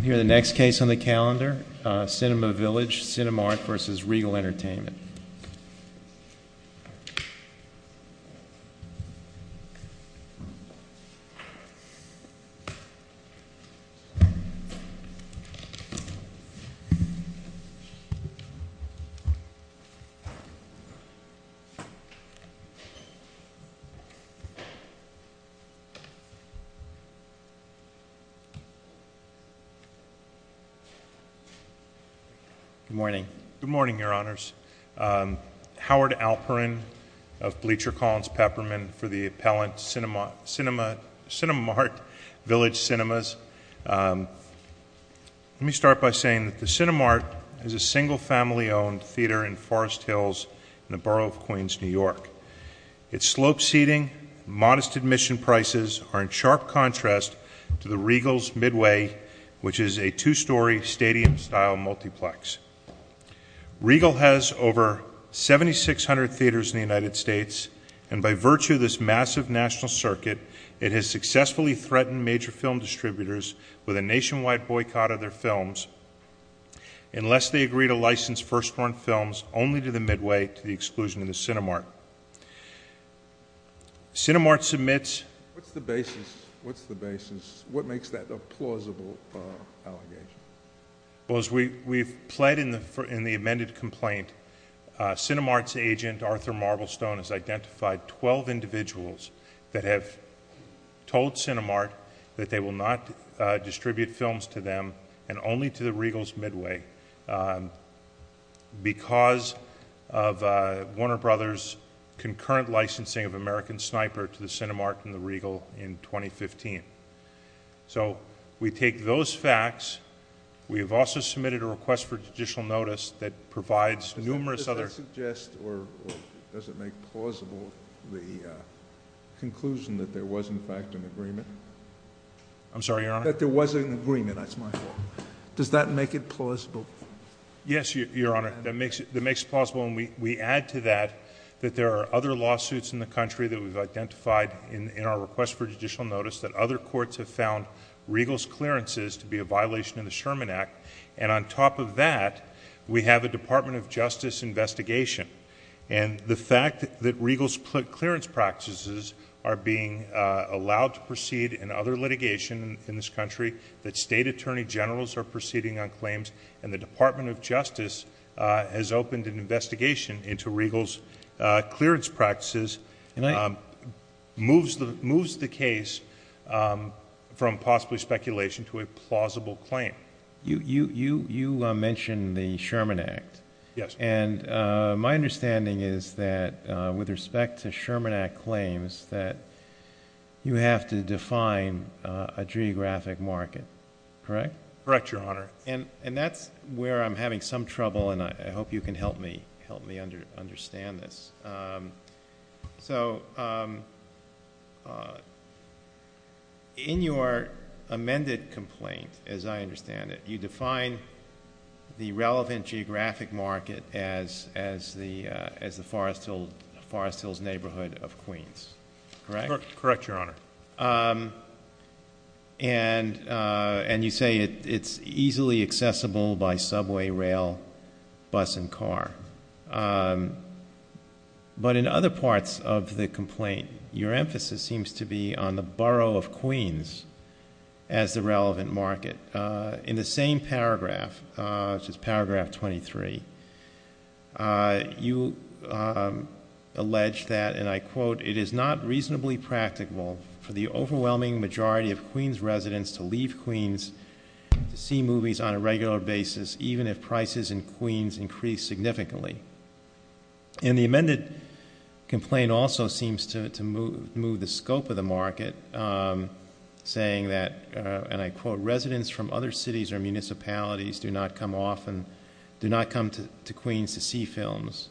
Here the next case on the calendar, Cinema Village Cinemart vs. Regal Entertainment. Good morning. Good morning, Your Honors. Howard Alperin of Bleacher Collins Peppermint for the appellant Cinemart Village Cinemas. Let me start by saying that the Cinemart is a single family owned theater in Forest Hills in the borough of Queens, New York. Its sloped seating and modest admission prices are in sharp contrast to the Regal's Midway, which is a two-story stadium style multiplex. Regal has over 7,600 theaters in the United States and by virtue of this massive national circuit, it has successfully threatened major film distributors with a nationwide boycott of their films unless they agree to license first run films only to the Midway to the exclusion of the Cinemart. Cinemart submits... What's the basis? What's the basis? What makes that a plausible allegation? Well, as we've pled in the amended complaint, Cinemart's agent, Arthur Marblestone, has identified 12 individuals that have told Cinemart that they will not distribute films to them and only to the Regal's Midway because of Warner Brothers' concurrent licensing of American Sniper to the Cinemart and the Regal in 2015. So, we take those facts. We have also submitted a request for judicial notice that provides numerous other... Does that suggest or does it make plausible the conclusion that there was, in fact, an agreement? I'm sorry, Your Honor? That there was an agreement, that's my fault. Does that make it plausible? Yes, Your Honor. That makes it plausible and we add to that that there are other lawsuits in the country that we've identified in our request for judicial notice that other courts have found Regal's clearances to be a violation of the Sherman Act and on top of that, we have a Department of Justice investigation and the fact that Regal's clearance practices are being allowed to proceed in other litigation in this country, that State Attorney Generals are proceeding on claims and the Department of Justice has opened an investigation into Regal's clearance practices moves the case from possibly speculation to a plausible claim. You mentioned the Sherman Act and my understanding is that with respect to Sherman Act claims that you have to define a geographic market, correct? Correct, Your Honor. And that's where I'm having some trouble and I hope you can help me understand this. So, in your amended complaint, as I understand it, you define the relevant geographic market as the Forest Hills neighborhood of Queens, correct? Correct, Your Honor. And you say it's easily accessible by subway, rail, bus and car. But in other parts of the complaint, your emphasis seems to be on the borough of Queens as the relevant market. In the same paragraph, which is paragraph 23, you allege that, and I quote, it is not reasonably practical for the overwhelming majority of Queens residents to leave Queens to see movies on a regular basis even if prices in Queens increase significantly. And the amended complaint also seems to move the scope of the market saying that, and I quote, Regal residents from other cities or municipalities do not come often, do not come to Queens to see films.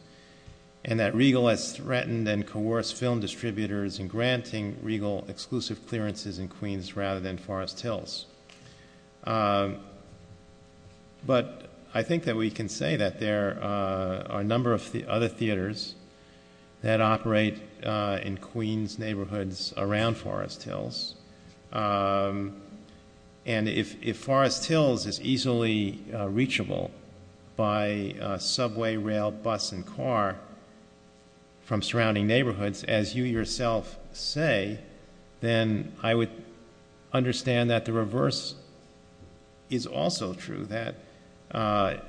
And that Regal has threatened and coerced film distributors in granting Regal exclusive clearances in Queens rather than Forest Hills. But I think that we can say that there are a number of other theaters that operate in Queens neighborhoods around Forest Hills. And if Forest Hills is easily reachable by subway, rail, bus and car from surrounding neighborhoods, as you yourself say, then I would understand that the reverse is also true, that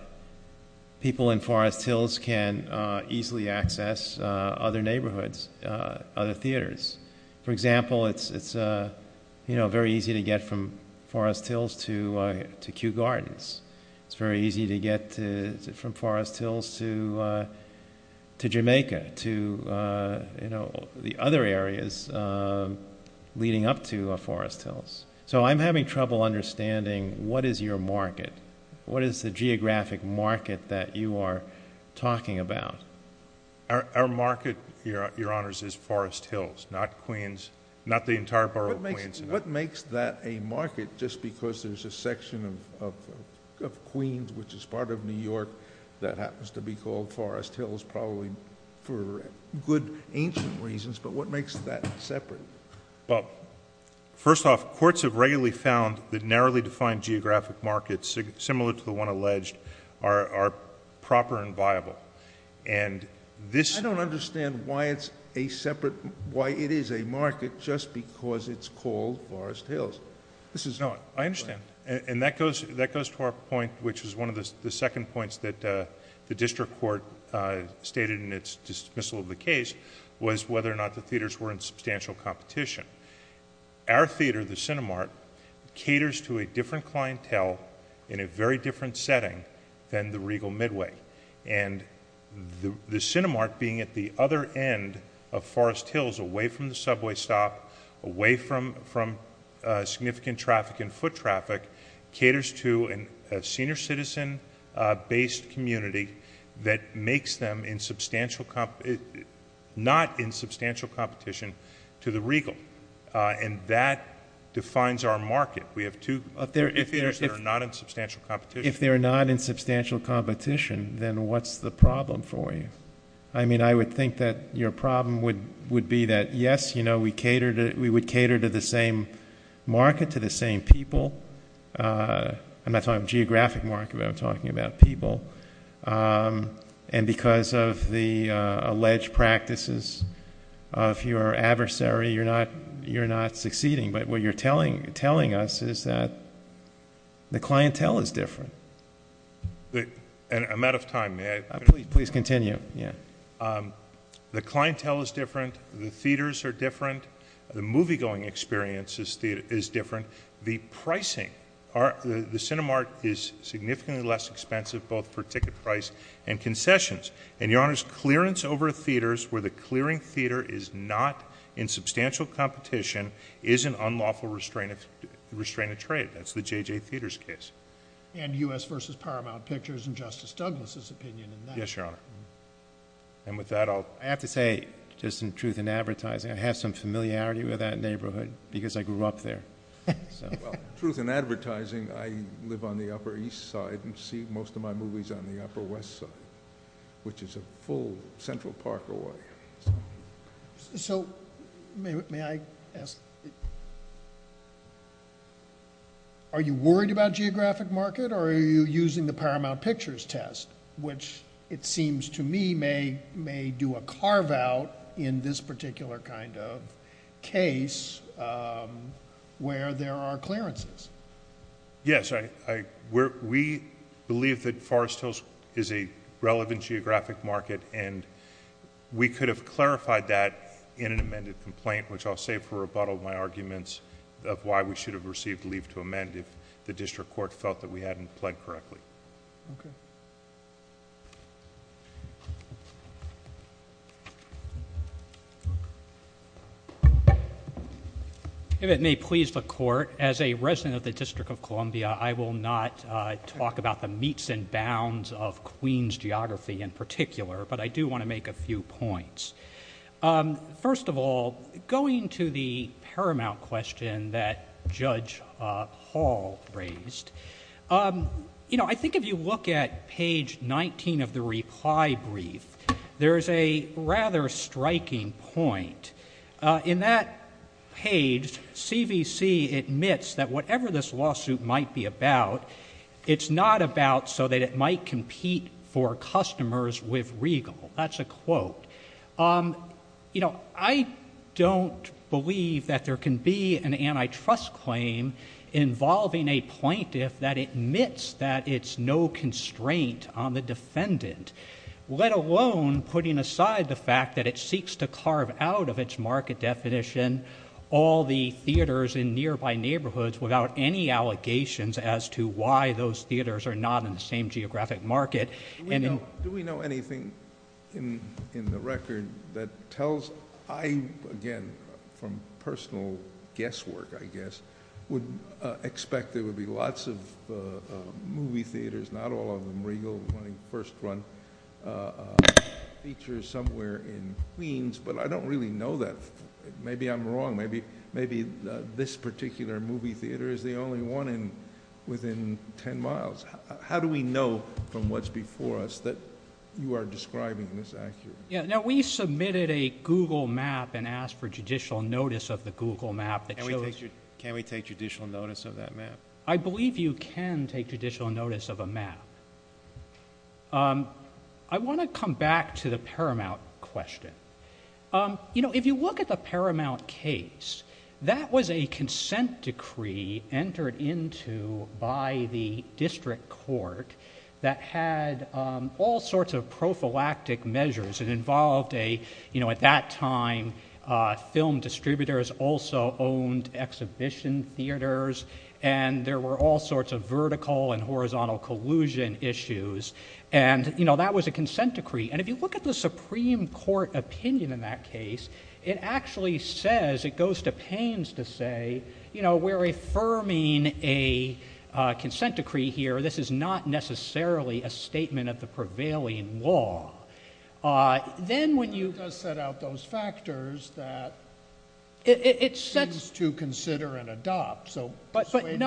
people in Forest Hills can easily access other neighborhoods, other neighborhoods. So it's very easy to get from Forest Hills to Kew Gardens. It's very easy to get from Forest Hills to Jamaica, to the other areas leading up to Forest Hills. So I'm having trouble understanding what is your market? What is the geographic market that you are talking about? Our market, Your Honors, is Forest Hills, not Queens, not the entire borough of Queens. What makes that a market just because there's a section of Queens which is part of New York that happens to be called Forest Hills probably for good ancient reasons, but what makes that separate? First off, courts have regularly found that narrowly defined geographic markets, similar to the one alleged, are proper and viable. I don't understand why it is a market just because it's called Forest Hills. I understand. And that goes to our point, which is one of the second points that the district court stated in its dismissal of the case, was whether or not the theaters were in substantial competition. Our theater, the Cinemark, caters to a different clientele in a very different setting than the Regal Midway. And the Cinemark being at the other end of Forest Hills, away from the subway stop, away from significant traffic and foot traffic, caters to a senior citizen based community that makes them not in substantial competition to the Regal. And that defines our market. We have two theaters that are not in substantial competition. If they're not in substantial competition, then what's the problem for you? I mean, I would think that your problem would be that, yes, we would cater to the same market, to the same people. I'm not talking geographic market, but I'm talking about people. And because of the alleged practices of your adversary, you're not succeeding. But what you're telling us is that the clientele is different. And I'm out of time. May I finish? Please continue, yeah. The clientele is different. The theaters are different. The movie-going experience is different. The pricing, the Cinemark is significantly less expensive, both for ticket price and concessions. And, Your Honors, clearance over theaters where the clearing theater is not in substantial competition is an unlawful restraint of trade. That's the J.J. Theaters case. And U.S. v. Paramount Pictures and Justice Douglas' opinion in that. Yes, Your Honor. And with that, I'll... I have to say, just in truth and advertising, I have some familiarity with that neighborhood because I grew up there. Well, truth in advertising, I live on the Upper East Side and see most of my movies on the Upper West Side, which is a full Central Park area. So, may I ask... Are you worried about geographic market or are you using the Paramount Pictures test, which it seems to me may do a carve-out in this particular kind of case, where there are clearances? Yes. We believe that Forest Hills is a relevant geographic market and we could have clarified that in an amended complaint, which I'll say for rebuttal of my arguments of why we should have received leave to amend if the district court felt that we hadn't pled correctly. Okay. If it may please the court, as a resident of the District of Columbia, I will not talk about the meets and bounds of Queens geography in particular, but I do want to make a few points. First of all, going to the Paramount question that Judge Hall raised, you know, I think if you look at page 19 of the reply brief, there's a rather striking point. In that page, CVC admits that whatever this lawsuit might be about, it's not about so that it might compete for customers with Regal. That's a quote. You know, I don't believe that there can be an antitrust claim involving a plaintiff that it's no constraint on the defendant, let alone putting aside the fact that it seeks to carve out of its market definition all the theaters in nearby neighborhoods without any allegations as to why those theaters are not in the same geographic market. Do we know anything in the record that tells... I, again, from personal guesswork, I know that a number of movie theaters, not all of them Regal, running first run, features somewhere in Queens, but I don't really know that. Maybe I'm wrong. Maybe this particular movie theater is the only one within ten miles. How do we know from what's before us that you are describing this accurately? Yeah. Now, we submitted a Google map and asked for judicial notice of the Google map that shows... Can we take judicial notice of that map? I believe you can take judicial notice of a map. I want to come back to the Paramount question. You know, if you look at the Paramount case, that was a consent decree entered into by the district court that had all sorts of prophylactic measures. It involved a, you know, at that time, film distributors also owned exhibition theaters, and there were all sorts of vertical and horizontal collusion issues, and, you know, that was a consent decree. And if you look at the Supreme Court opinion in that case, it actually says, it goes to Paines to say, you know, we're affirming a consent decree here. This is not necessarily a statement of the prevailing law. Then when you... It does set out those factors that... It sets...... things to consider and adopt, so... But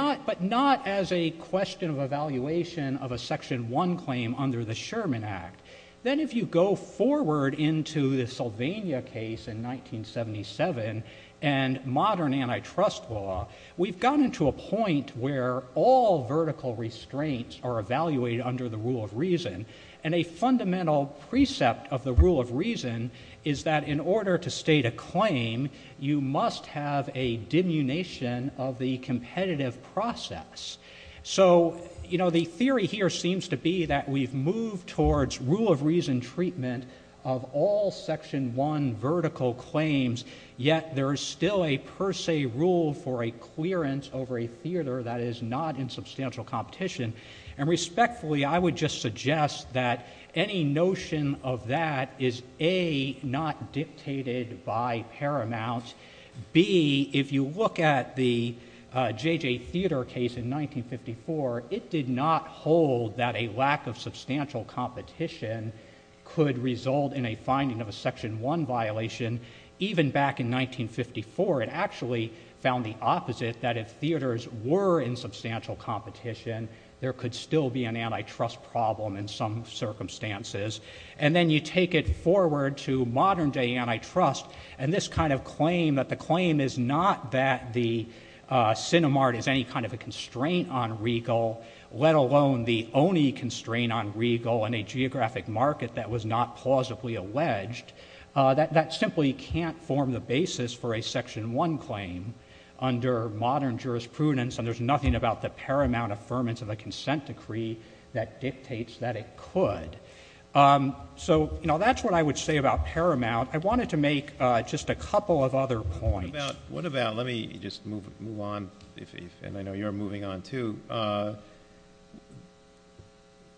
not as a question of evaluation of a Section 1 claim under the Sherman Act. Then if you go forward into the Sylvania case in 1977 and modern antitrust law, we've gotten to a point where all vertical restraints are evaluated under the rule of reason, and a fundamental precept of the rule of reason is that in order to state a claim, you must have a diminution of the competitive process. So, you know, the theory here seems to be that we've moved towards rule of reason treatment of all Section 1 vertical claims, yet there is still a per se rule for a clearance over a theater that is not in substantial competition. And respectfully, I would just suggest that any notion of that is, A, not dictated by Paramount, B, if you look at the J.J. Theater case in 1954, it did not hold that a lack of substantial competition could result in a finding of a Section 1 violation. Even back in 1954, it actually found the opposite, that if theaters were in substantial competition, there could still be an antitrust problem in some circumstances. And then you take it forward to modern day antitrust, and this kind of claim, that the geographic market that was not plausibly alleged, that simply can't form the basis for a Section 1 claim under modern jurisprudence, and there's nothing about the Paramount affirmance of a consent decree that dictates that it could. So that's what I would say about Paramount. I wanted to make just a couple of other points. What about, let me just move on, and I know you're moving on too,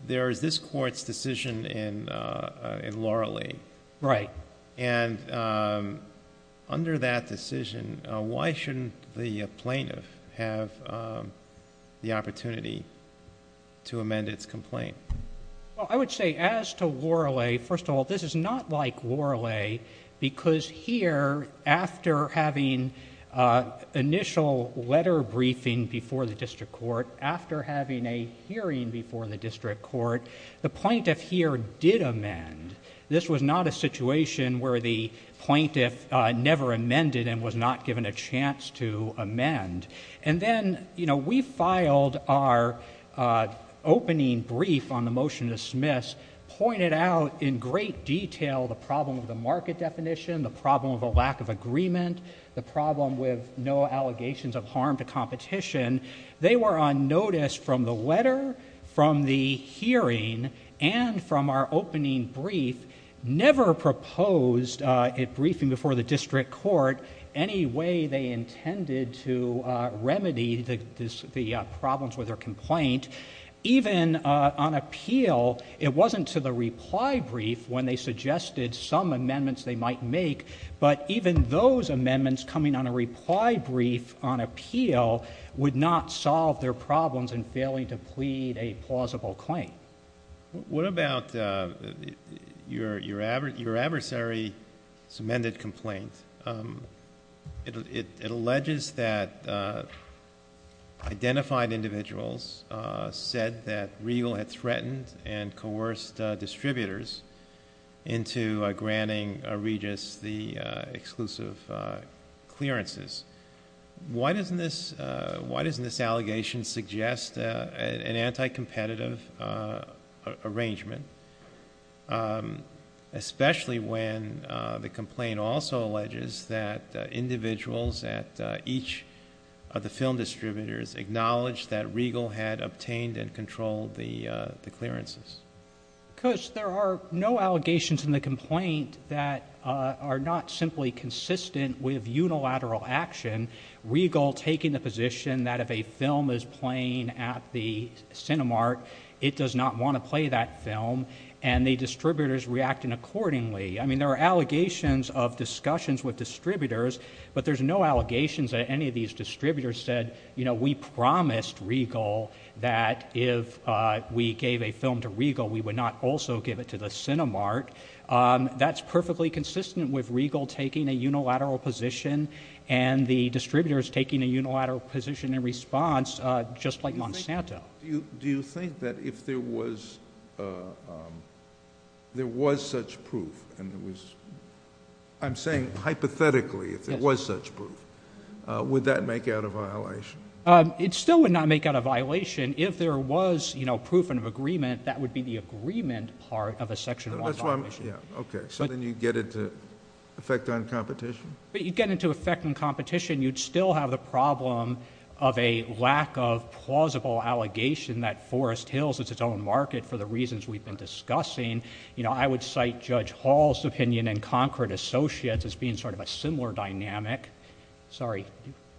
there is this Court's decision in Loralee, and under that decision, why shouldn't the plaintiff have the opportunity to amend its complaint? Well, I would say, as to Loralee, first of all, this is not like Loralee, because here, after having initial letter briefing before the District Court, after having a hearing before the District Court, the plaintiff here did amend. This was not a situation where the plaintiff never amended and was not given a chance to amend. And then, you know, we filed our opening brief on the motion to dismiss, pointed out in great detail the problem of the market definition, the problem of a lack of agreement, the problem with no allegations of harm to competition. They were on notice from the letter, from the hearing, and from our opening brief, never proposed a briefing before the District Court, any way they intended to remedy the problems with their complaint, even on appeal. It wasn't to the reply brief when they suggested some amendments they might make, but even those amendments coming on a reply brief on appeal would not solve their problems in failing to plead a plausible claim. What about your adversary's amended complaint? It alleges that identified individuals said that Riegel had threatened and coerced distributors into granting Regis the exclusive clearances. Why doesn't this allegation suggest an anti-competitive arrangement, especially when the complaint also alleges that individuals at each of the film distributors acknowledged that Riegel had obtained and controlled the clearances? Because there are no allegations in the complaint that are not simply consistent with unilateral action, Riegel taking the position that if a film is playing at the Cinemark, it does not want to play that film, and the distributors reacting accordingly. I mean, there are allegations of discussions with distributors, but there's no allegations that any of these distributors said, you know, we promised Riegel that if we gave a film to Riegel, we would not also give it to the Cinemark. That's perfectly consistent with Riegel taking a unilateral position and the distributors taking a unilateral position in response, just like Monsanto. Do you think that if there was such proof, and I'm saying hypothetically if there was such proof, would that make out a violation? It still would not make out a violation. If there was, you know, proof and agreement, that would be the agreement part of a section one competition. Yeah, okay. So then you'd get it to effect on competition? But you'd get it to effect on competition. You'd still have the problem of a lack of plausible allegation that Forest Hills is its own market for the reasons we've been discussing. You know, I would cite Judge Hall's opinion in Concord Associates as being sort of a similar dynamic. Sorry.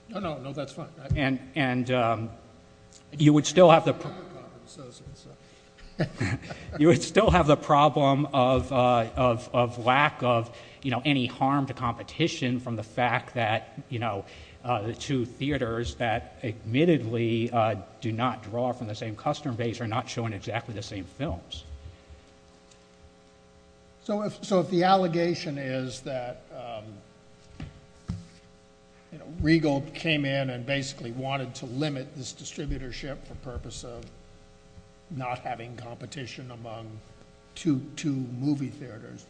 No, no. No, that's fine. And you would still have the problem of lack of, you know, any harm to competition from the fact that, you know, the two theaters that admittedly do not draw from the same custom base are not showing exactly the same films. So if the allegation is that, you know, Regal came in and basically wanted to limit this distributorship for purpose of not having competition among two movie theaters,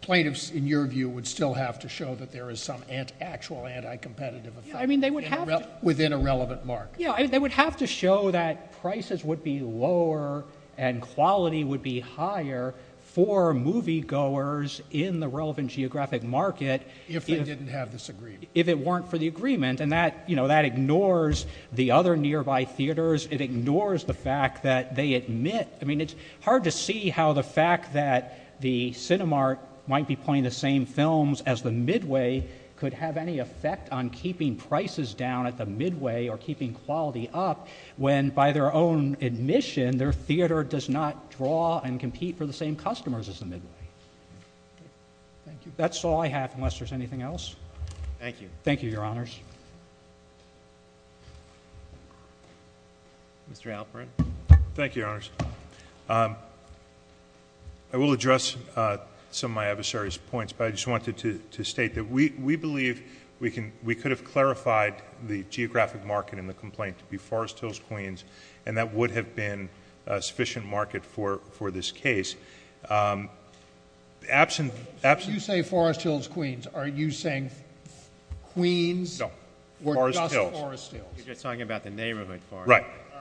plaintiffs in your view would still have to show that there is some actual anti-competitive effect within a relevant market? Yeah. They would have to show that prices would be lower and quality would be higher for moviegoers in the relevant geographic market if they didn't have this agreement, if it weren't for the agreement. And that, you know, that ignores the other nearby theaters. It ignores the fact that they admit, I mean, it's hard to see how the fact that the Cinemark might be playing the same films as the Midway could have any effect on keeping prices down at the Midway or keeping quality up when, by their own admission, their theater does not draw and compete for the same customers as the Midway. That's all I have unless there's anything else. Thank you. Thank you, Your Honors. Mr. Alperin. Thank you, Your Honors. I will address some of my adversary's points, but I just wanted to state that we believe we could have clarified the geographic market in the complaint to be Forest Hills, Queens, and that would have been a sufficient market for this case. You say Forest Hills, Queens. Are you saying Queens were just Forest Hills? No. Forest Hills. You're just talking about the neighborhood, Forest Hills. Right. All right.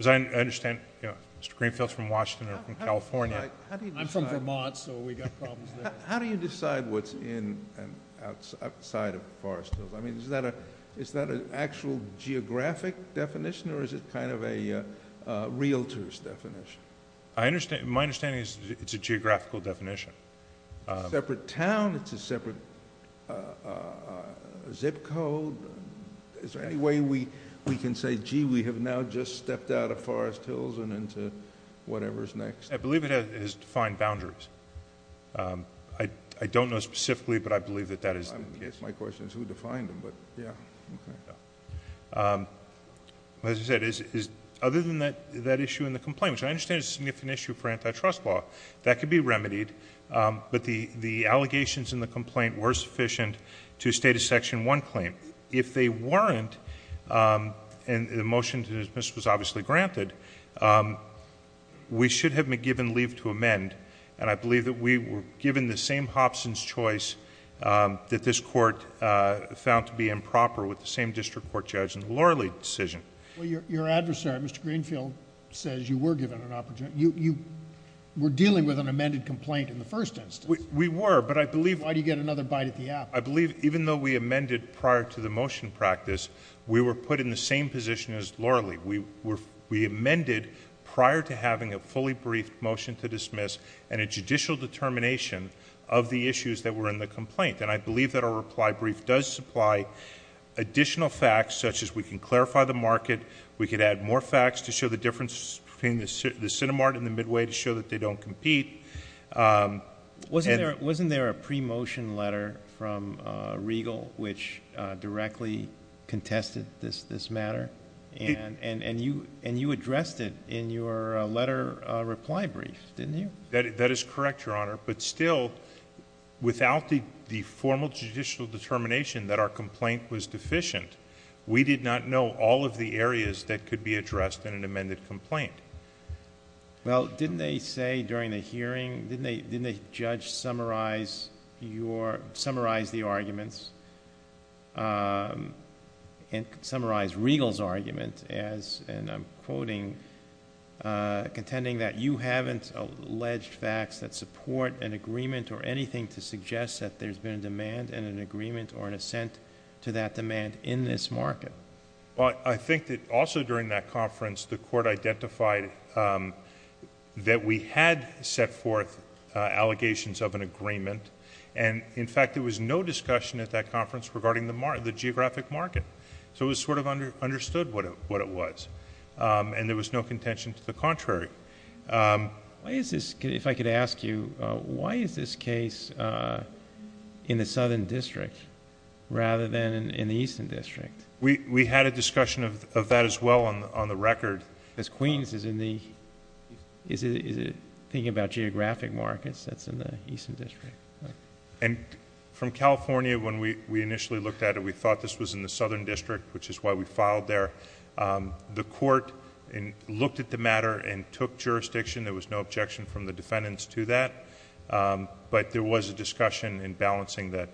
As I understand, Mr. Greenfield's from Washington or from California. I'm from Vermont, so we've got problems there. How do you decide what's in and outside of Forest Hills? Is that an actual geographic definition or is it kind of a realtor's definition? My understanding is it's a geographical definition. Separate town, it's a separate zip code. Is there any way we can say, gee, we have now just stepped out of Forest Hills and into whatever's next? I believe it has defined boundaries. I don't know specifically, but I believe that that is the case. My question is who defined them, but yeah. Okay. As I said, other than that issue in the complaint, which I understand is an issue for antitrust law, that could be remedied, but the allegations in the complaint were sufficient to state a Section 1 claim. I think if they weren't, and the motion to dismiss was obviously granted, we should have been given leave to amend, and I believe that we were given the same Hobson's choice that this court found to be improper with the same district court judge in the Lorley decision. Your adversary, Mr. Greenfield, says you were given an opportunity... you were dealing with an amended complaint in the first instance. We were, but I believe... Why do you get another bite at the apple? I believe even though we amended prior to the motion practice, we were put in the same position as Lorley. We amended prior to having a fully briefed motion to dismiss and a judicial determination of the issues that were in the complaint, and I believe that our reply brief does supply additional facts such as we can clarify the market, we could add more facts to show the difference between the Cinemark and the Midway to show that they don't compete. Wasn't there a pre-motion letter from Riegel which directly contested this matter, and you addressed it in your letter reply brief, didn't you? That is correct, Your Honor, but still, without the formal judicial determination that our complaint was deficient, we did not know all of the areas that could be addressed in an amended complaint. Well, didn't they say during the hearing... didn't the judge summarize the arguments and summarize Riegel's argument as, and I'm quoting, contending that you haven't alleged facts that support an agreement or anything to suggest that there's been a demand and an agreement or an assent to that demand in this market? Well, I think that also during that conference, the court identified that we had set forth allegations of an agreement, and in fact, there was no discussion at that conference regarding the geographic market, so it was sort of understood what it was, and there was no contention to the contrary. Why is this... if I could ask you, why is this case in the Southern District rather than in the Eastern District? We had a discussion of that as well on the record. As Queens is in the... is it thinking about geographic markets, that's in the Eastern District. And from California, when we initially looked at it, we thought this was in the Southern District, which is why we filed there. The court looked at the matter and took jurisdiction. There was no objection from the defendants to that, but there was a discussion in balancing that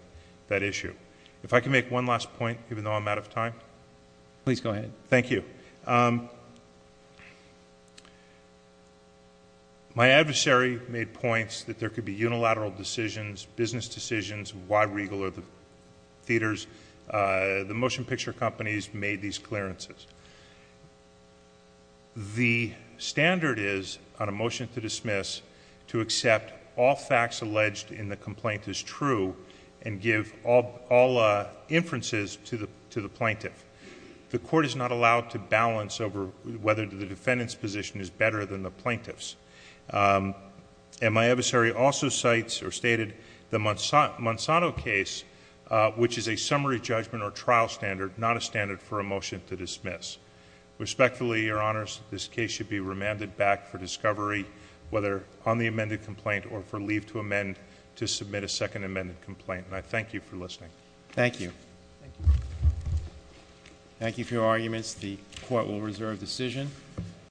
issue. If I could make one last point, even though I'm out of time. Please go ahead. Thank you. My adversary made points that there could be unilateral decisions, business decisions, why Regal or the theaters... the motion picture companies made these clearances. The standard is, on a motion to dismiss, to accept all facts alleged in the complaint is true and give all inferences to the plaintiff. The court is not allowed to balance over whether the defendant's position is better than the plaintiff's. And my adversary also cites or stated the Monsanto case, which is a summary judgment or trial standard, not a standard for a motion to dismiss. Respectfully, Your Honors, this case should be remanded back for discovery, whether on the amended complaint or for leave to amend to submit a second amended complaint. And I thank you for listening. Thank you. Thank you. Thank you for your arguments. The court will reserve decision.